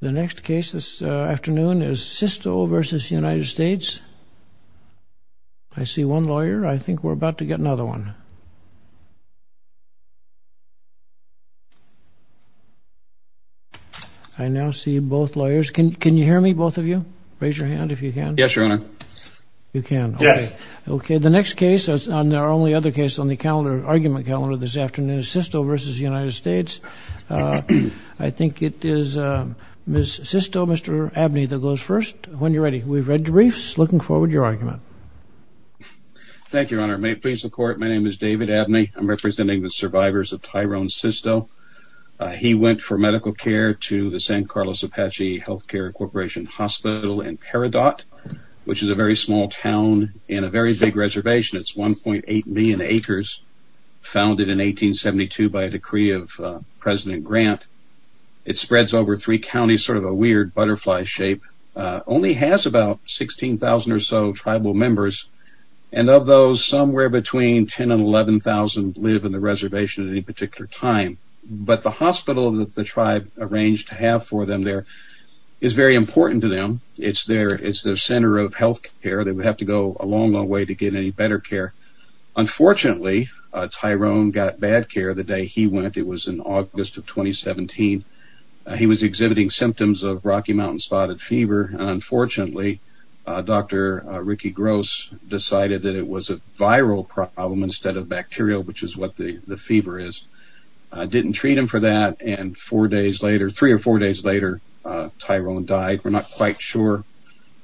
The next case this afternoon is Sisto v. United States. I see one lawyer. I think we're about to get another one. I now see both lawyers. Can you hear me, both of you? Raise your hand if you can. Yes, Your Honor. You can? Yes. Okay. The next case, and our only other case on the calendar, argument calendar this afternoon, is Sisto v. United States. I think it is Ms. Sisto, Mr. Abney that goes first. When you're ready. We've read the briefs. Looking forward to your argument. Thank you, Your Honor. May it please the Court, my name is David Abney. I'm representing the survivors of Tyrone Sisto. He went for medical care to the San Carlos Apache Healthcare Corporation Hospital in Peridot, which is a very small town in a very big reservation. It's 1.8 million acres, founded in 1872 by a decree of President Grant. It spreads over three counties, sort of a weird butterfly shape, only has about 16,000 or so tribal members, and of those, somewhere between 10,000 and 11,000 live in the reservation at any particular time. But the hospital that the tribe arranged to have for them there is very important to them. It's their center of healthcare. They would have to go a long, long way to get any better care. Unfortunately, Tyrone got bad care the day he went. It was in August of 2017. He was exhibiting symptoms of Rocky Mountain Spotted Fever. Unfortunately, Dr. Ricky Gross decided that it was a viral problem instead of bacterial, which is what the fever is. Didn't treat him for that, and three or four days later, Tyrone died. We're not quite sure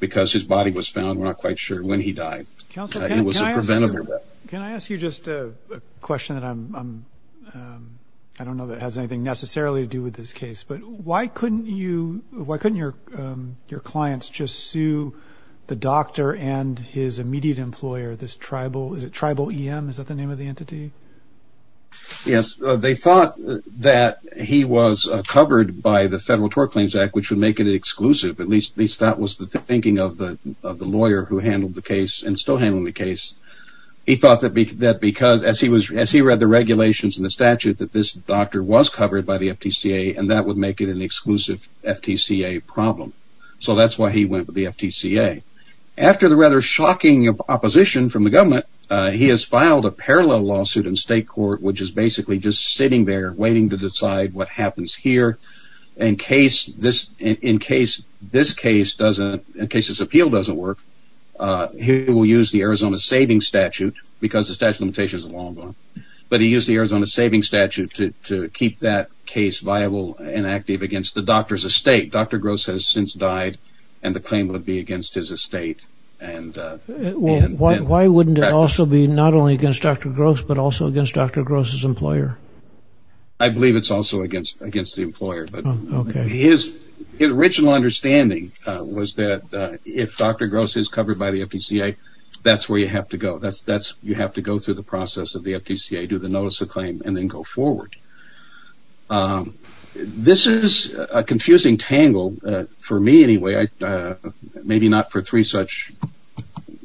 because his body was found. We're not quite sure when he died. It was a preventable death. Can I ask you just a question that I don't know that has anything necessarily to do with this case, but why couldn't your clients just sue the doctor and his immediate employer, this tribal EM? Is that the name of the entity? Yes. They thought that he was covered by the Federal Tort Claims Act, which would make it exclusive. At least that was the thinking of the lawyer who handled the case and still handling the case. He thought that because, as he read the regulations and the statute, that this doctor was covered by the FTCA, and that would make it an exclusive FTCA problem. So that's why he went with the FTCA. After the rather shocking opposition from the government, he has filed a parallel lawsuit in state court, which is basically just sitting there waiting to decide what happens here. In case this case doesn't, in case this appeal doesn't work, he will use the Arizona Savings Statute because the statute of limitations is a long one, but he used the Arizona Savings Statute to keep that case viable and active against the doctor's estate. Dr. Gross has since died, and the claim would be against his estate. Why wouldn't it also be not only against Dr. Gross, but also against Dr. Gross's employer? I believe it's also against the employer. His original understanding was that if Dr. Gross is covered by the FTCA, that's where you have to go. You have to go through the process of the FTCA, do the notice of claim, and then go forward. This is a confusing tangle for me anyway, maybe not for three such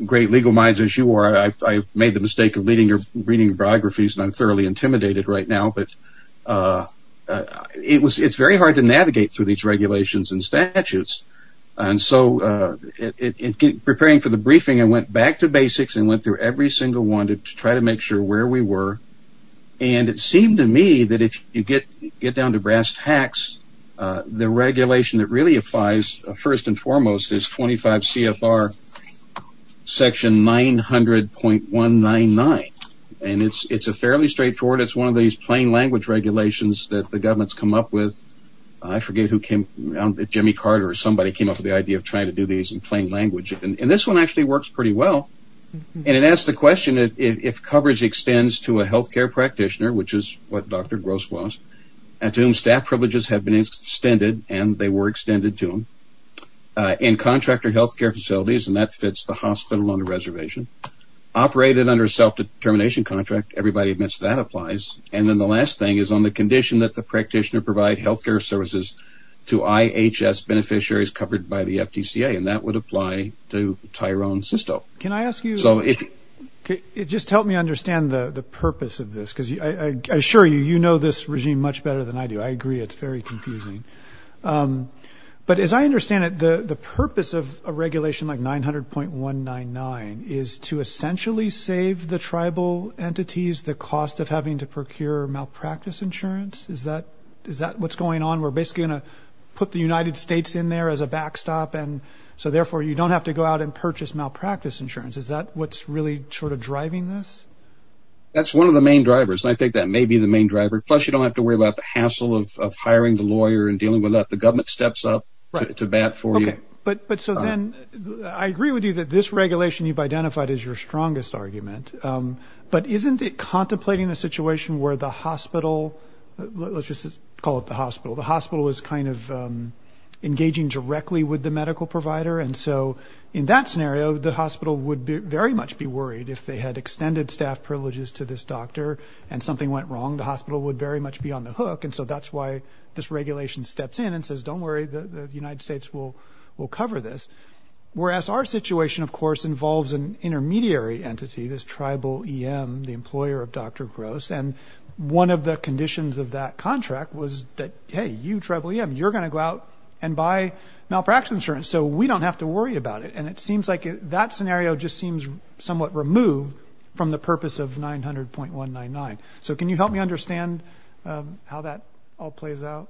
great legal minds as you are. I made the mistake of reading your biographies, and I'm thoroughly intimidated right now, but it's very hard to navigate through these regulations and statutes. So in preparing for the briefing, I went back to basics and went through every single one to try to make sure where we were. It seemed to me that if you get down to brass tacks, the regulation that really applies, first and foremost, is 25 CFR section 900.199. It's fairly straightforward. It's one of these plain language regulations that the government's come up with. I forget who came up with it, Jimmy Carter or somebody came up with the idea of trying to do these in plain language. This one actually works pretty well. It asks the question, if coverage extends to a health care practitioner, which is what Dr. Gross was, to whom staff privileges have been extended, and they were extended to them, in contractor health care facilities, and that fits the hospital under reservation, operated under a self-determination contract, everybody admits that applies, and then the last thing is on the condition that the practitioner provide health care services to IHS beneficiaries covered by the FTCA, and that would apply to Tyrone Sisto. Can I ask you, it just helped me understand the purpose of this, because I assure you, you know this regime much better than I do. I agree it's very confusing. But as I understand it, the purpose of a regulation like 900.199 is to essentially save the tribal entities the cost of having to procure malpractice insurance? Is that what's going on? We're basically going to put the United States in there as a backstop, and so therefore you don't have to go out and purchase malpractice insurance. Is that what's really sort of driving this? That's one of the main drivers, and I think that may be the main driver, plus you don't have to worry about the hassle of hiring the lawyer and dealing with that. The government steps up to bat for you. Okay, but so then I agree with you that this regulation you've identified is your strongest argument, but isn't it contemplating a situation where the hospital, let's just call it the hospital, the hospital is kind of engaging directly with the medical provider, and so in that scenario the hospital would very much be worried if they had extended staff privileges to this doctor and something went wrong. The hospital would very much be on the hook, and so that's why this regulation steps in and says don't worry, the United States will cover this. Whereas our situation, of course, involves an intermediary entity, this tribal EM, the employer of Dr. Gross, and one of the conditions of that contract was that, hey, you tribal EM, you're going to go out and buy malpractice insurance, so we don't have to worry about it. And it seems like that scenario just seems somewhat removed from the purpose of 900.199. So can you help me understand how that all plays out?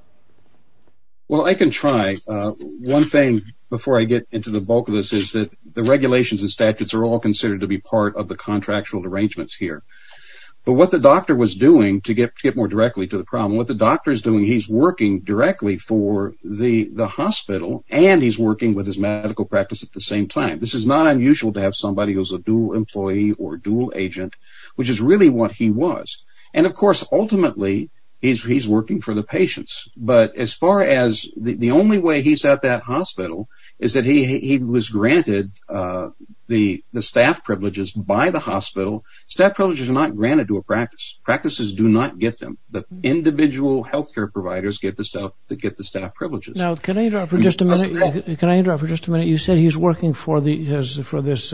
Well, I can try. One thing before I get into the bulk of this is that the regulations and statutes are all considered to be part of the contractual arrangements here. But what the doctor was doing, to get more directly to the problem, what the doctor is doing, he's working directly for the hospital and he's working with his medical practice at the same time. This is not unusual to have somebody who's a dual employee or dual agent, which is really what he was. And, of course, ultimately he's working for the patients. But as far as the only way he's at that hospital is that he was granted the staff privileges by the hospital. Staff privileges are not granted to a practice. Practices do not get them. The individual health care providers get the staff privileges. Now, can I interrupt for just a minute? Can I interrupt for just a minute? You said he's working for this,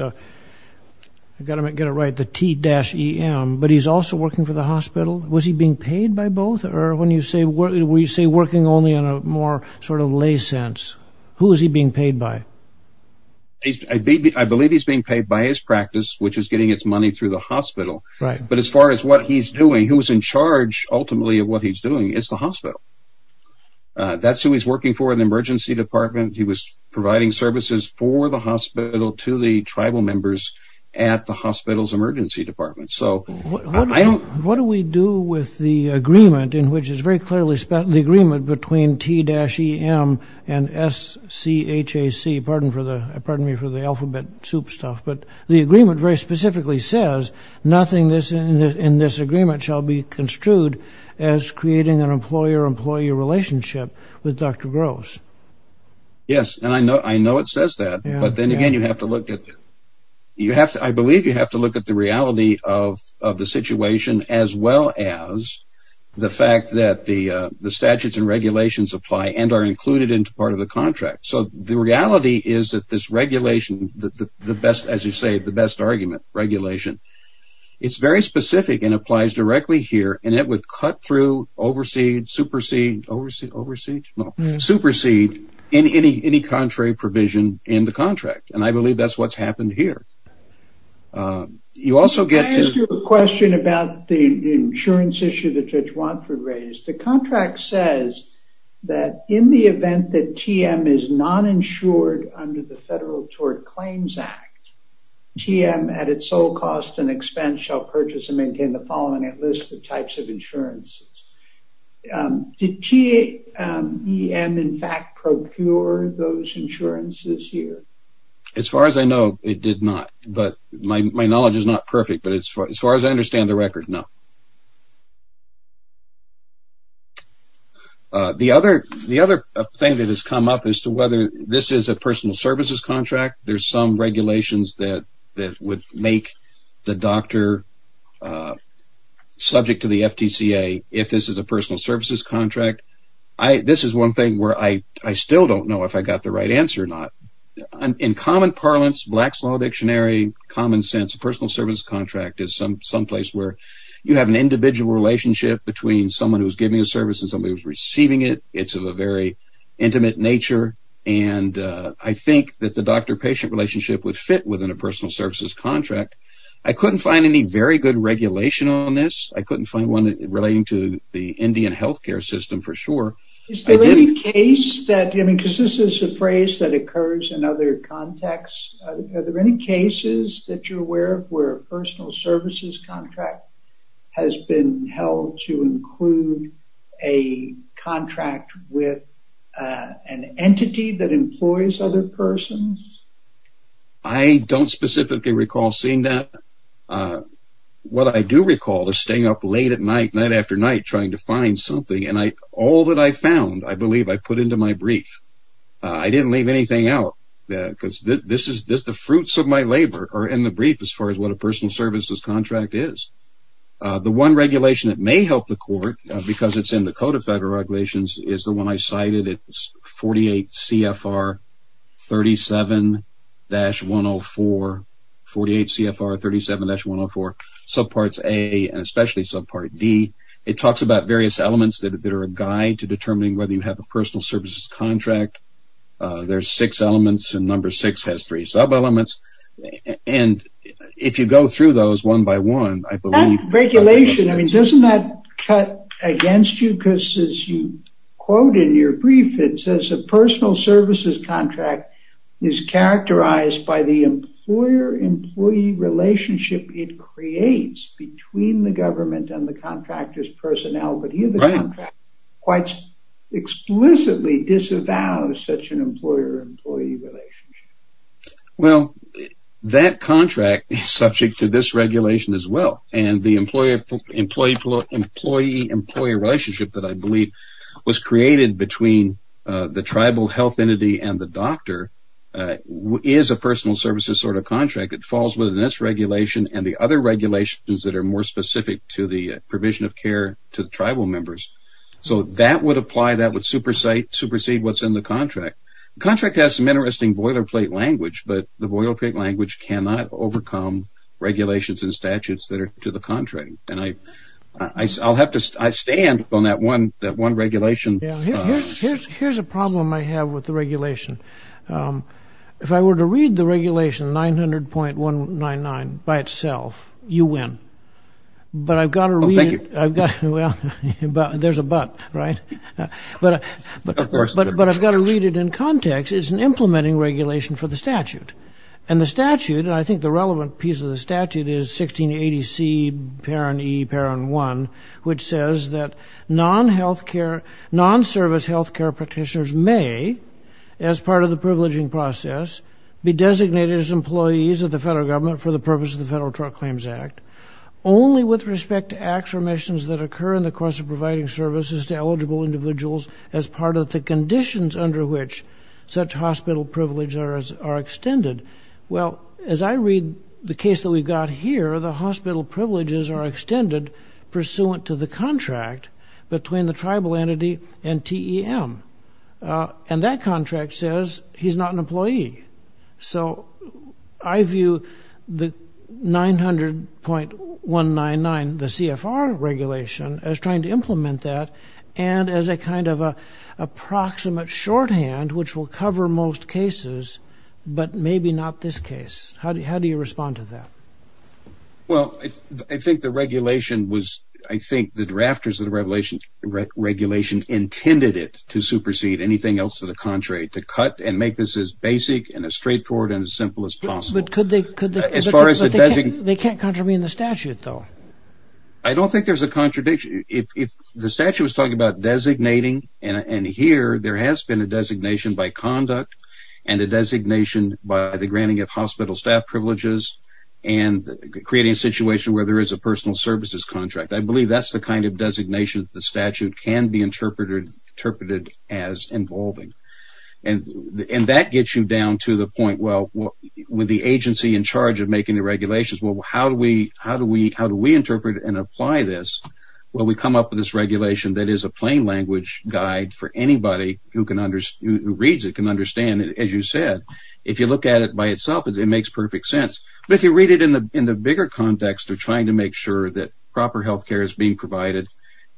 I've got to get it right, the T-EM, but he's also working for the hospital. Was he being paid by both? Or when you say working only in a more sort of lay sense, who is he being paid by? I believe he's being paid by his practice, which is getting its money through the hospital. But as far as what he's doing, who is in charge ultimately of what he's doing is the hospital. That's who he's working for in the emergency department. He was providing services for the hospital to the tribal members at the hospital's emergency department. What do we do with the agreement in which it's very clearly spelled, the agreement between T-EM and S-C-H-A-C, pardon me for the alphabet soup stuff, but the agreement very specifically says nothing in this agreement shall be construed as creating an employer-employee relationship with Dr. Gross. Yes, and I know it says that. But then again, I believe you have to look at the reality of the situation as well as the fact that the statutes and regulations apply and are included into part of the contract. So the reality is that this regulation, as you say, the best argument, regulation, it's very specific and applies directly here, and it would cut through, supersede any contrary provision in the contract. And I believe that's what's happened here. You also get to... Can I ask you a question about the insurance issue that Judge Watford raised? The contract says that in the event that T-EM is non-insured under the Federal Tort Claims Act, T-EM at its sole cost and expense shall purchase and maintain the following at least the types of insurances. Did T-EM in fact procure those insurances here? As far as I know, it did not. But my knowledge is not perfect, but as far as I understand the record, no. The other thing that has come up as to whether this is a personal services contract, there's some regulations that would make the doctor subject to the FTCA if this is a personal services contract. This is one thing where I still don't know if I got the right answer or not. In common parlance, black-slaw dictionary, common sense, a personal services contract is someplace where you have an individual relationship between someone who's giving a service and somebody who's receiving it. It's of a very intimate nature. I think that the doctor-patient relationship would fit within a personal services contract. I couldn't find any very good regulation on this. I couldn't find one relating to the Indian health care system for sure. Is there any case that, because this is a phrase that occurs in other contexts, are there any cases that you're aware of where a personal services contract has been held to include a contract with an entity that employs other persons? I don't specifically recall seeing that. What I do recall is staying up late at night, night after night, trying to find something. All that I found, I believe, I put into my brief. I didn't leave anything out because the fruits of my labor are in the brief as far as what a personal services contract is. The one regulation that may help the court, because it's in the Code of Federal Regulations, is the one I cited. It's 48 CFR 37-104, subparts A and especially subpart D. It talks about various elements that are a guide to determining whether you have a personal services contract. There's six elements, and number six has three sub-elements. If you go through those one by one, I believe- That regulation, doesn't that cut against you? Because as you quote in your brief, it says, a personal services contract is characterized by the employer-employee relationship it creates between the government and the contractor's personnel. But here the contract quite explicitly disavows such an employer-employee relationship. Well, that contract is subject to this regulation as well. And the employee-employee relationship that I believe was created between the tribal health entity and the doctor is a personal services sort of contract. It falls within this regulation and the other regulations that are more specific to the provision of care to the tribal members. So that would apply, that would supersede what's in the contract. The contract has some interesting boilerplate language, but the boilerplate language cannot overcome regulations and statutes that are to the contrary. And I'll have to stand on that one regulation. Here's a problem I have with the regulation. If I were to read the regulation 900.199 by itself, you win. But I've got to read it- Oh, thank you. Well, there's a but, right? Of course. But I've got to read it in context. It's an implementing regulation for the statute. And the statute, and I think the relevant piece of the statute, is 1680C, parent E, parent 1, which says that non-service health care practitioners may, as part of the privileging process, be designated as employees of the federal government for the purpose of the Federal Drug Claims Act only with respect to affirmations that occur in the course of providing services to eligible individuals as part of the conditions under which such hospital privileges are extended. Well, as I read the case that we've got here, the hospital privileges are extended pursuant to the contract between the tribal entity and TEM. And that contract says he's not an employee. So I view the 900.199, the CFR regulation, as trying to implement that and as a kind of an approximate shorthand which will cover most cases, but maybe not this case. How do you respond to that? Well, I think the regulation was- I think the drafters of the regulation intended it to supersede anything else to the contrary, to cut and make this as basic and as straightforward and as simple as possible. But they can't contravene the statute, though. I don't think there's a contradiction. If the statute was talking about designating, and here there has been a designation by conduct and a designation by the granting of hospital staff privileges and creating a situation where there is a personal services contract, I believe that's the kind of designation the statute can be interpreted as involving. And that gets you down to the point, well, with the agency in charge of making the regulations, well, how do we interpret and apply this? Well, we come up with this regulation that is a plain language guide for anybody who reads it, can understand it, as you said. If you look at it by itself, it makes perfect sense. But if you read it in the bigger context of trying to make sure that proper health care is being provided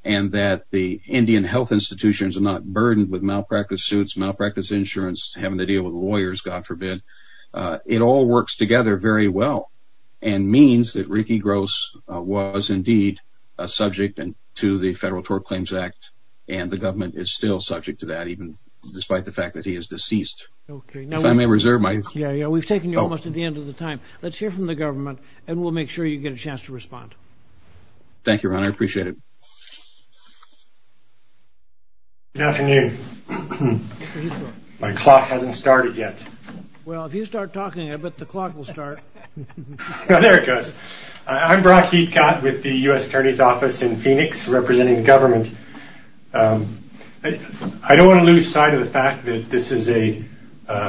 and that the Indian health institutions are not burdened with malpractice suits, malpractice insurance, having to deal with lawyers, God forbid, it all works together very well and means that Ricky Gross was indeed a subject to the Federal Tort Claims Act, and the government is still subject to that, even despite the fact that he is deceased. Okay. If I may reserve my... Yeah, yeah, we've taken you almost to the end of the time. Let's hear from the government and we'll make sure you get a chance to respond. Thank you, Ron. I appreciate it. Good afternoon. My clock hasn't started yet. Well, if you start talking, I bet the clock will start. There it goes. I don't want to lose sight of the fact that this is a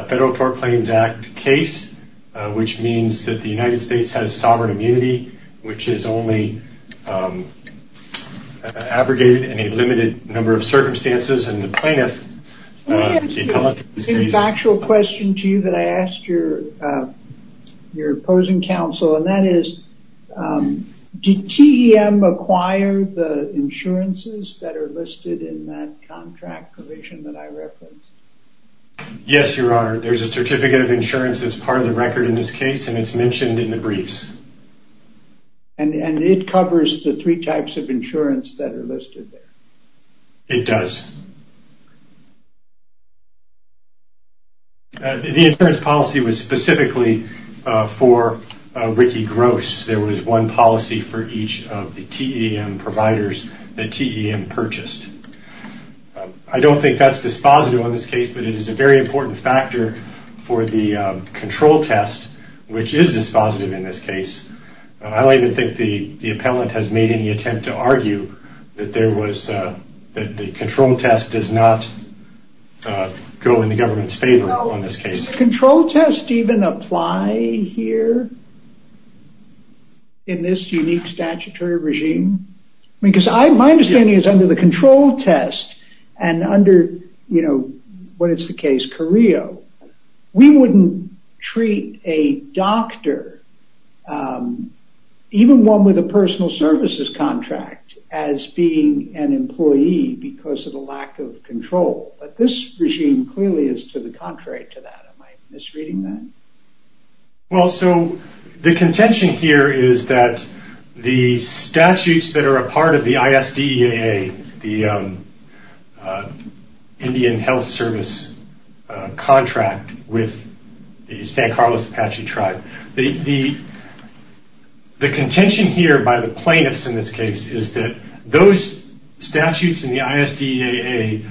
Federal Tort Claims Act case, which means that the United States has sovereign immunity, which is only abrogated in a limited number of circumstances, and the plaintiff... Let me ask you a factual question to you that I asked your opposing counsel, and that is, did TEM acquire the insurances that are listed in that contract provision that I referenced? Yes, Your Honor. There's a certificate of insurance that's part of the record in this case, and it's mentioned in the briefs. And it covers the three types of insurance that are listed there? It does. The insurance policy was specifically for Ricky Gross. There was one policy for each of the TEM providers that TEM purchased. I don't think that's dispositive on this case, but it is a very important factor for the control test, which is dispositive in this case. I don't even think the appellant has made any attempt to argue that there was... The control test does not go in the government's favor on this case. Does the control test even apply here in this unique statutory regime? Because my understanding is under the control test and under, you know, what is the case, Carillo, we wouldn't treat a doctor, even one with a personal services contract, as being an employee because of a lack of control. But this regime clearly is to the contrary to that. Am I misreading that? Well, so the contention here is that the statutes that are a part of the ISDEAA, the Indian Health Service contract with the San Carlos Apache tribe, the contention here by the plaintiffs in this case is that those statutes in the ISDEAA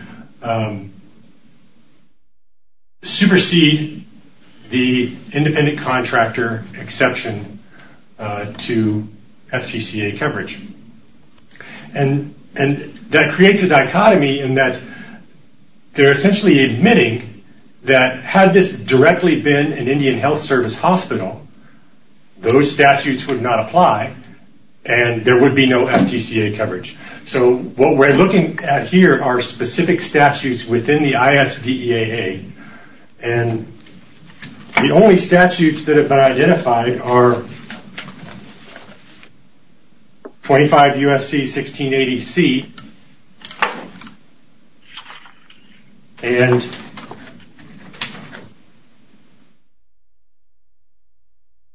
supersede the independent contractor exception to FGCA coverage. And that creates a dichotomy in that they're essentially admitting that had this directly been an Indian Health Service hospital, those statutes would not apply and there would be no FGCA coverage. So what we're looking at here are specific statutes within the ISDEAA. And the only statutes that have been identified are 25 U.S.C. 1680C and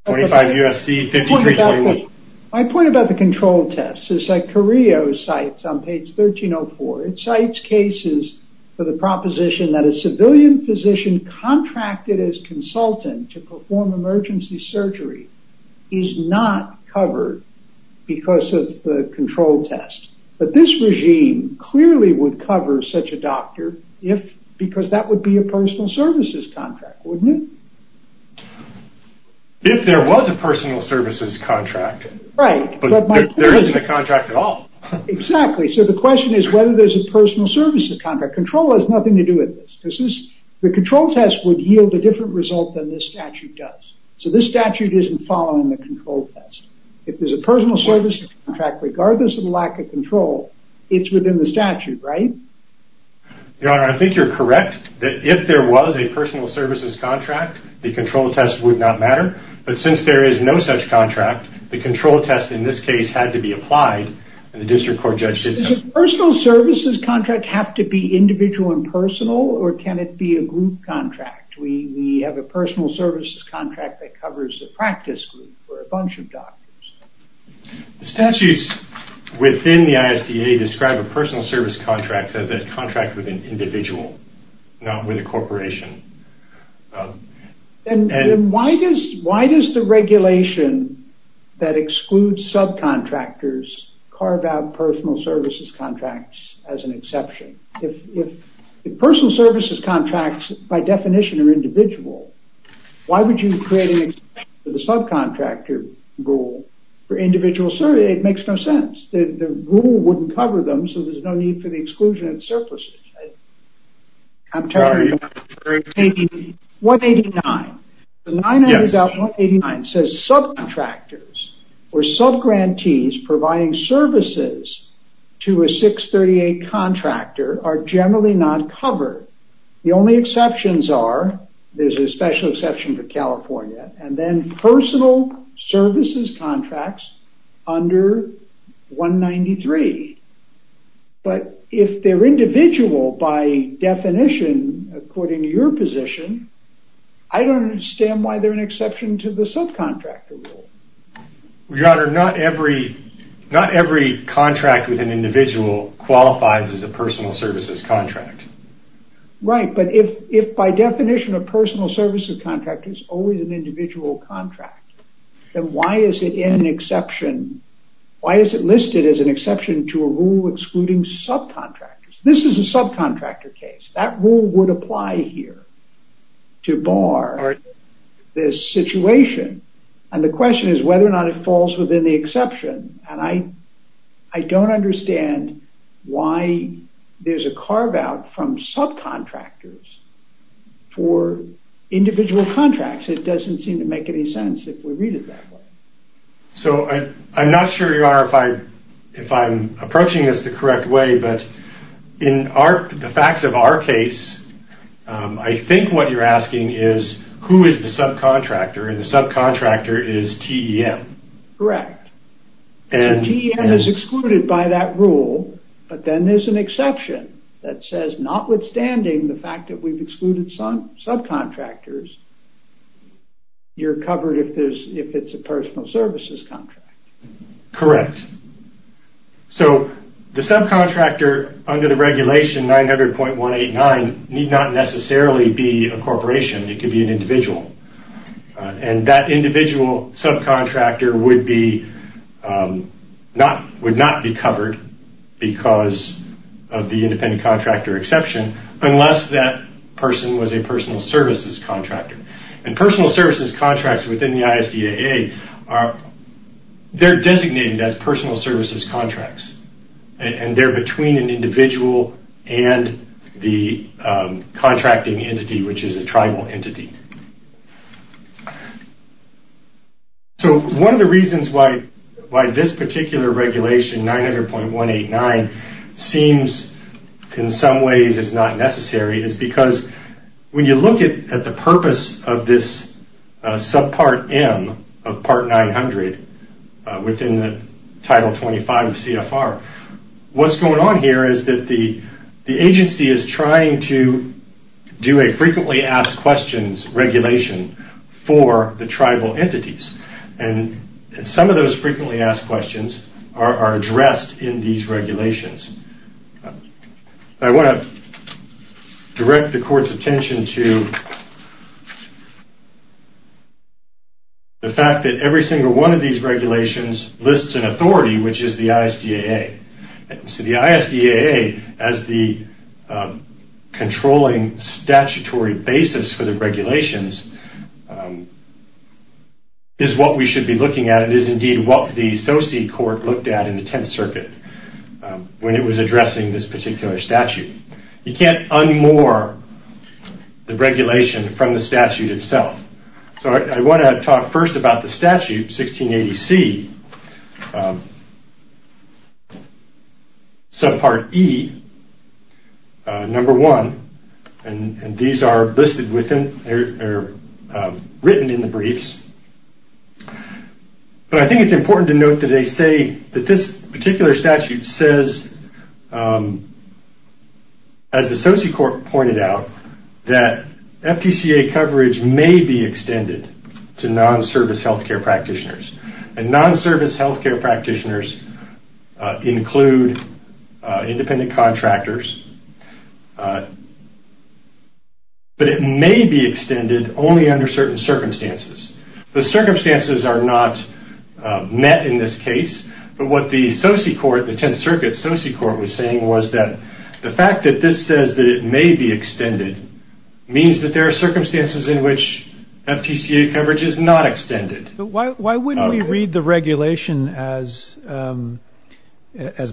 25 U.S.C. 5321. My point about the control test is that Carillo cites on page 1304, it cites cases for the proposition that a civilian physician contracted as consultant to perform emergency surgery is not covered because of the control test. But this regime clearly would cover such a doctor because that would be a personal services contract, wouldn't it? If there was a personal services contract. Right. But there isn't a contract at all. Exactly. So the question is whether there's a personal services contract. Control has nothing to do with this. The control test would yield a different result than this statute does. So this statute isn't following the control test. If there's a personal services contract, regardless of the lack of control, it's within the statute, right? Your Honor, I think you're correct that if there was a personal services contract, the control test would not matter. But since there is no such contract, the control test in this case had to be applied, and the district court judge did so. Does a personal services contract have to be individual and personal, or can it be a group contract? We have a personal services contract that covers the practice group for a bunch of doctors. The statutes within the ISDA describe a personal service contract as a contract with an individual, not with a corporation. Then why does the regulation that excludes subcontractors carve out personal services contracts as an exception? If personal services contracts, by definition, are individual, why would you create an exception to the subcontractor rule for individual services? It makes no sense. The rule wouldn't cover them, so there's no need for the exclusion of surpluses. I'm talking about 189. The 900.189 says subcontractors or subgrantees providing services to a 638 contractor are generally not covered. The only exceptions are, there's a special exception for California, and then personal services contracts under 193. But if they're individual, by definition, according to your position, I don't understand why they're an exception to the subcontractor rule. Your Honor, not every contract with an individual qualifies as a personal services contract. Right, but if by definition a personal services contract is always an individual contract, then why is it listed as an exception to a rule excluding subcontractors? This is a subcontractor case. That rule would apply here to bar this situation, and the question is whether or not it falls within the exception. I don't understand why there's a carve-out from subcontractors for individual contracts. It doesn't seem to make any sense if we read it that way. So I'm not sure, Your Honor, if I'm approaching this the correct way, but in the facts of our case, I think what you're asking is who is the subcontractor, and the subcontractor is TEM. Correct. And TEM is excluded by that rule, but then there's an exception that says, notwithstanding the fact that we've excluded subcontractors, you're covered if it's a personal services contract. Correct. So the subcontractor under the regulation 900.189 need not necessarily be a corporation. It could be an individual. And that individual subcontractor would not be covered because of the independent contractor exception unless that person was a personal services contractor. And personal services contracts within the ISDAA, they're designated as personal services contracts, and they're between an individual and the contracting entity, which is a tribal entity. So one of the reasons why this particular regulation, 900.189, seems in some ways it's not necessary is because when you look at the purpose of this subpart M of part 900 within the Title 25 of CFR, what's going on here is that the agency is trying to do a frequently asked questions regulation for the tribal entities, and some of those frequently asked questions are addressed in these regulations. I want to direct the court's attention to the fact that every single one of these regulations lists an authority, which is the ISDAA. So the ISDAA, as the controlling statutory basis for the regulations, is what we should be looking at. It is indeed what the associate court looked at in the Tenth Circuit. When it was addressing this particular statute. You can't unmoor the regulation from the statute itself. So I want to talk first about the statute, 1680C, subpart E, number 1, and these are listed within, or written in the briefs. But I think it's important to note that they say that this particular statute says, as the associate court pointed out, that FTCA coverage may be extended to non-service healthcare practitioners. And non-service healthcare practitioners include independent contractors, but it may be extended only under certain circumstances. The circumstances are not met in this case, but what the associate court, the Tenth Circuit associate court was saying was that the fact that this says that it may be extended means that there are circumstances in which FTCA coverage is not extended. But why wouldn't we read the regulation as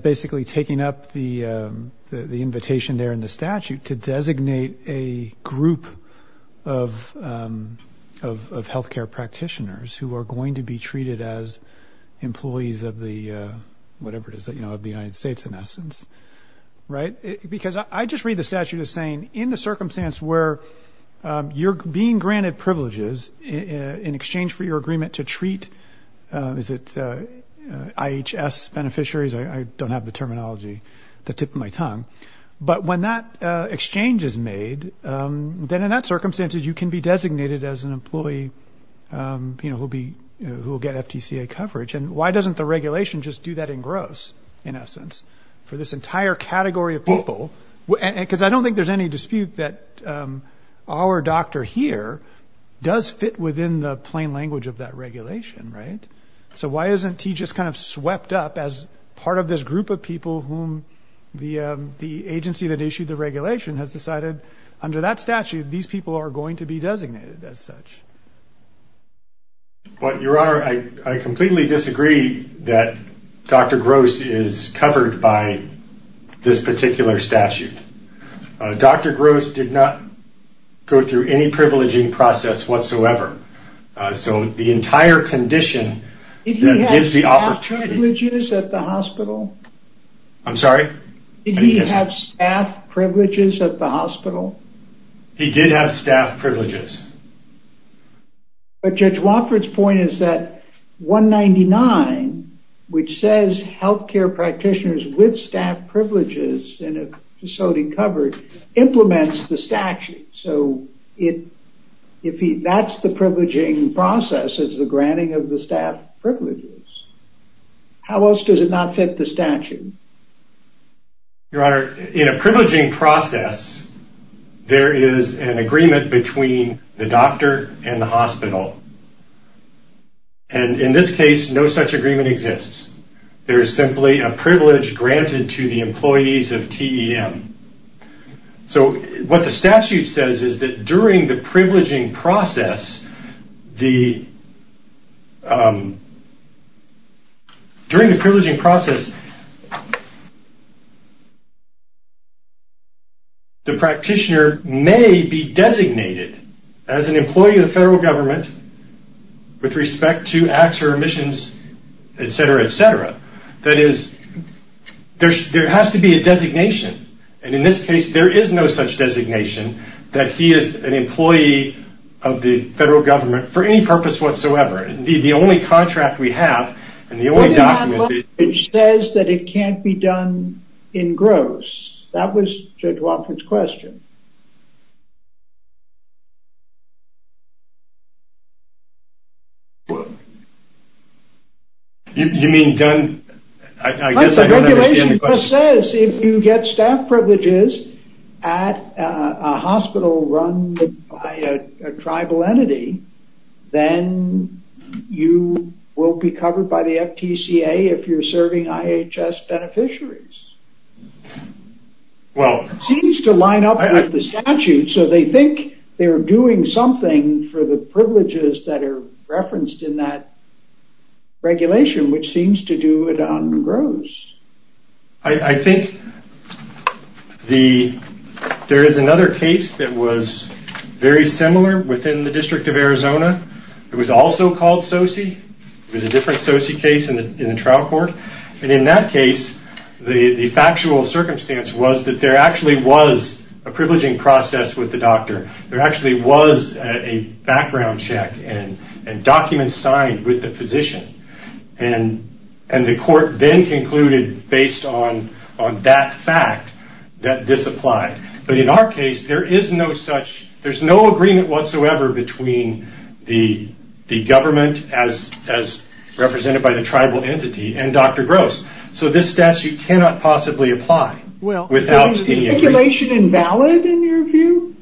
basically taking up the invitation there in the statute to designate a group of healthcare practitioners who are going to be treated as employees of the, whatever it is, of the United States in essence. Because I just read the statute as saying, in the circumstance where you're being granted privileges in exchange for your agreement to treat, is it IHS beneficiaries? I don't have the terminology at the tip of my tongue. But when that exchange is made, then in that circumstance you can be designated as an employee, you know, who will get FTCA coverage. And why doesn't the regulation just do that in gross, in essence, for this entire category of people? Because I don't think there's any dispute that our doctor here does fit within the plain language of that regulation. Right. So why isn't he just kind of swept up as part of this group of people whom the agency that issued the regulation has decided under that statute, these people are going to be designated as such. Your Honor, I completely disagree that Dr. Gross is covered by this particular statute. Dr. Gross did not go through any privileging process whatsoever. So the entire condition that gives the opportunity... Did he have staff privileges at the hospital? I'm sorry? Did he have staff privileges at the hospital? He did have staff privileges. But Judge Wofford's point is that 199, which says healthcare practitioners with staff privileges in a facility covered, implements the statute. So if that's the privileging process, it's the granting of the staff privileges. How else does it not fit the statute? Your Honor, in a privileging process, there is an agreement between the doctor and the hospital. And in this case, no such agreement exists. There is simply a privilege granted to the employees of TEM. So what the statute says is that during the privileging process, the practitioner may be designated as an employee of the federal government with respect to acts or omissions, etc., etc. That is, there has to be a designation. And in this case, there is no such designation that he is an employee of the federal government for any purpose whatsoever. The only contract we have and the only document... It says that it can't be done in Gross. That was Judge Wofford's question. You mean done? I guess I don't understand the question. The regulation says if you get staff privileges at a hospital run by a tribal entity, then you will be covered by the FTCA if you're serving IHS beneficiaries. It seems to line up with the statute, so they think they're doing something for the privileges that are referenced in that regulation, which seems to do it on Gross. I think there is another case that was very similar within the District of Arizona. It was also called SOSI. It was a different SOSI case in the trial court. And in that case, the factual circumstance was that there actually was a privileging process with the doctor. There actually was a background check and documents signed with the physician. And the court then concluded, based on that fact, that this applied. But in our case, there is no agreement whatsoever between the government, as represented by the tribal entity, and Dr. Gross. So this statute cannot possibly apply without any agreement. Is the regulation invalid in your view?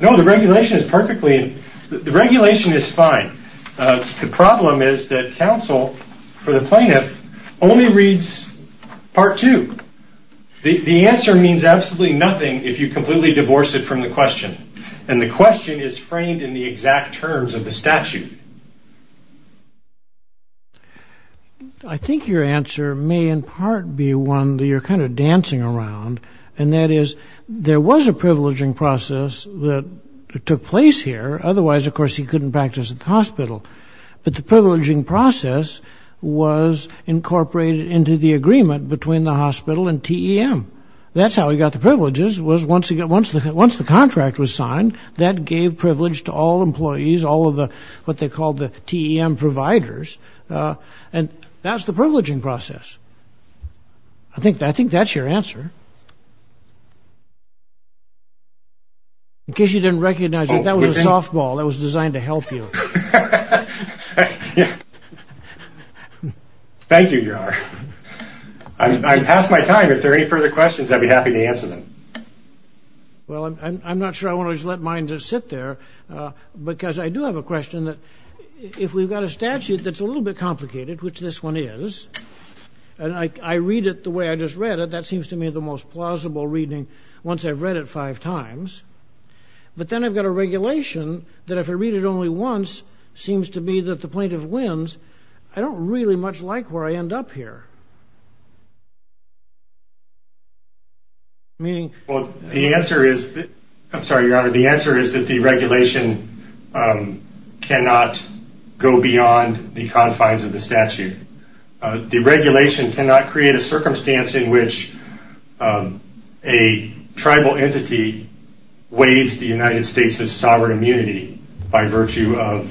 No, the regulation is perfectly... The regulation is fine. The problem is that counsel for the plaintiff only reads part two. The answer means absolutely nothing if you completely divorce it from the question. And the question is framed in the exact terms of the statute. I think your answer may in part be one that you're kind of dancing around. And that is, there was a privileging process that took place here. Otherwise, of course, he couldn't practice at the hospital. But the privileging process was incorporated into the agreement between the hospital and TEM. That's how he got the privileges, was once the contract was signed. That gave privilege to all employees, all of what they called the TEM providers. And that's the privileging process. I think that's your answer. In case you didn't recognize it, that was a softball that was designed to help you. Thank you, Your Honor. I've passed my time. If there are any further questions, I'd be happy to answer them. Well, I'm not sure I want to just let mine just sit there. Because I do have a question. If we've got a statute that's a little bit complicated, which this one is. And I read it the way I just read it. That seems to me the most plausible reading once I've read it five times. But then I've got a regulation that if I read it only once, seems to me that the plaintiff wins. I don't really much like where I end up here. Well, the answer is that the regulation cannot go beyond the confines of the statute. The regulation cannot create a circumstance in which a tribal entity waives the United States' sovereign immunity by virtue of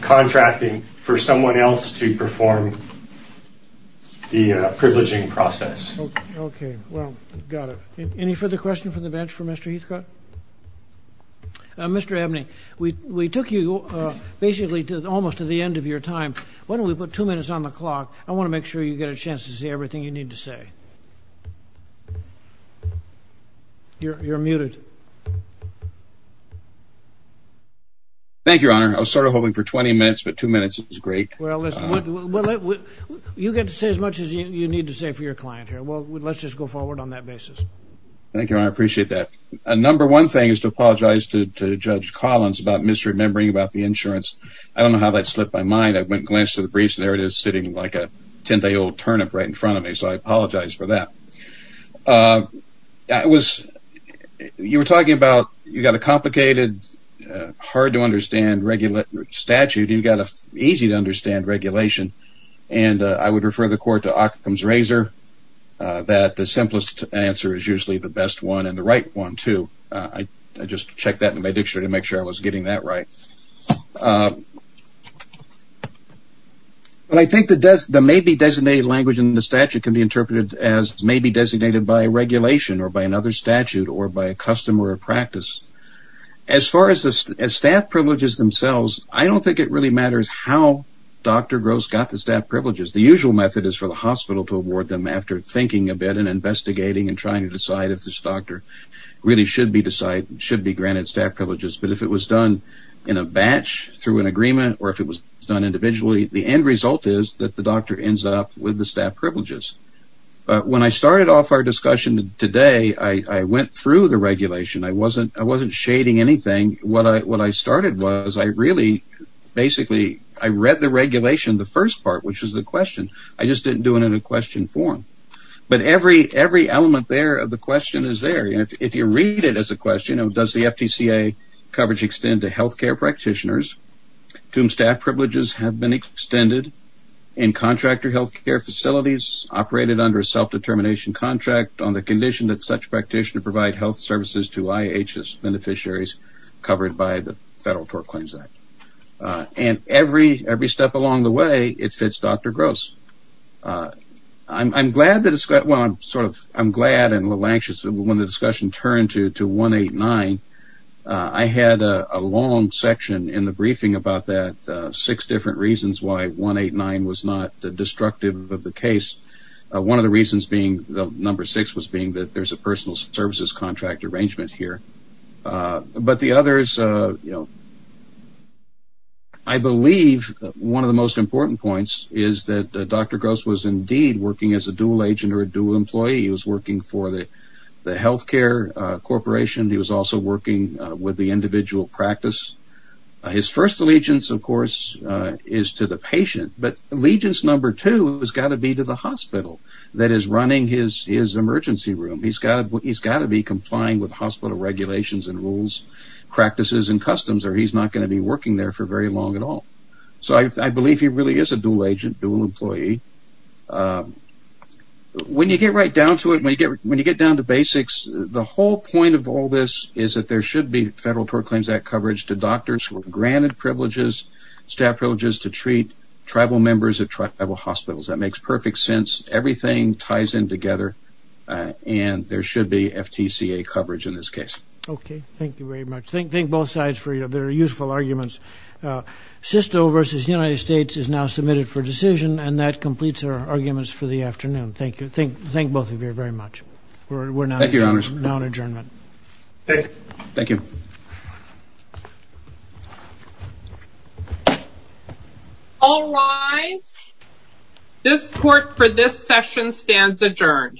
contracting for someone else to perform the privileging process. Okay. Well, got it. Any further questions from the bench for Mr. Heathcote? Mr. Abney, we took you basically almost to the end of your time. Why don't we put two minutes on the clock? I want to make sure you get a chance to say everything you need to say. You're muted. Thank you, Your Honor. I was sort of hoping for 20 minutes, but two minutes is great. Well, you get to say as much as you need to say for your client here. Thank you, Your Honor. I appreciate that. A number one thing is to apologize to Judge Collins about misremembering about the insurance. I don't know how that slipped my mind. I went and glanced at the briefs, and there it is sitting like a 10-day-old turnip right in front of me, so I apologize for that. You were talking about you've got a complicated, hard-to-understand statute. You've got an easy-to-understand regulation. I would refer the Court to Occam's razor, that the simplest answer is usually the best one and the right one, too. I just checked that in my dictionary to make sure I was getting that right. I think the maybe-designated language in the statute can be interpreted as maybe designated by a regulation or by another statute or by a custom or a practice. As far as staff privileges themselves, I don't think it really matters how Dr. Gross got the staff privileges. The usual method is for the hospital to award them after thinking a bit and investigating and trying to decide if this doctor really should be granted staff privileges, but if it was done in a batch through an agreement or if it was done individually, the end result is that the doctor ends up with the staff privileges. When I started off our discussion today, I went through the regulation. I wasn't shading anything. What I started was I read the regulation, the first part, which is the question. I just didn't do it in a question form, but every element there of the question is there. If you read it as a question, does the FTCA coverage extend to healthcare practitioners to whom staff privileges have been extended in contractor healthcare facilities operated under a self-determination contract on the condition that such practitioner provide health services to IHS beneficiaries covered by the Federal Tort Claims Act. Every step along the way, it fits Dr. Gross. I'm glad and a little anxious when the discussion turned to 189. I had a long section in the briefing about that, six different reasons why 189 was not destructive of the case. One of the reasons being, number six was being that there's a personal services contract arrangement here. I believe one of the most important points is that Dr. Gross was indeed working as a dual agent or a dual employee. He was working for the healthcare corporation. He was also working with the individual practice. His first allegiance, of course, is to the patient, but allegiance number two has got to be to the hospital that is running his emergency room. He's got to be complying with hospital regulations and rules, practices, and customs or he's not going to be working there for very long at all. I believe he really is a dual agent, dual employee. When you get right down to it, when you get down to basics, the whole point of all this is that there should be Federal Tort Claims Act coverage to doctors who are granted privileges, staff privileges, to treat tribal members at tribal hospitals. That makes perfect sense. Everything ties in together, and there should be FTCA coverage in this case. Okay, thank you very much. Thank both sides for their useful arguments. SISTO versus the United States is now submitted for decision, and that completes our arguments for the afternoon. Thank you. Thank both of you very much. Thank you, Your Honors. We're now in adjournment. Thank you. Thank you. All rise. This court for this session stands adjourned.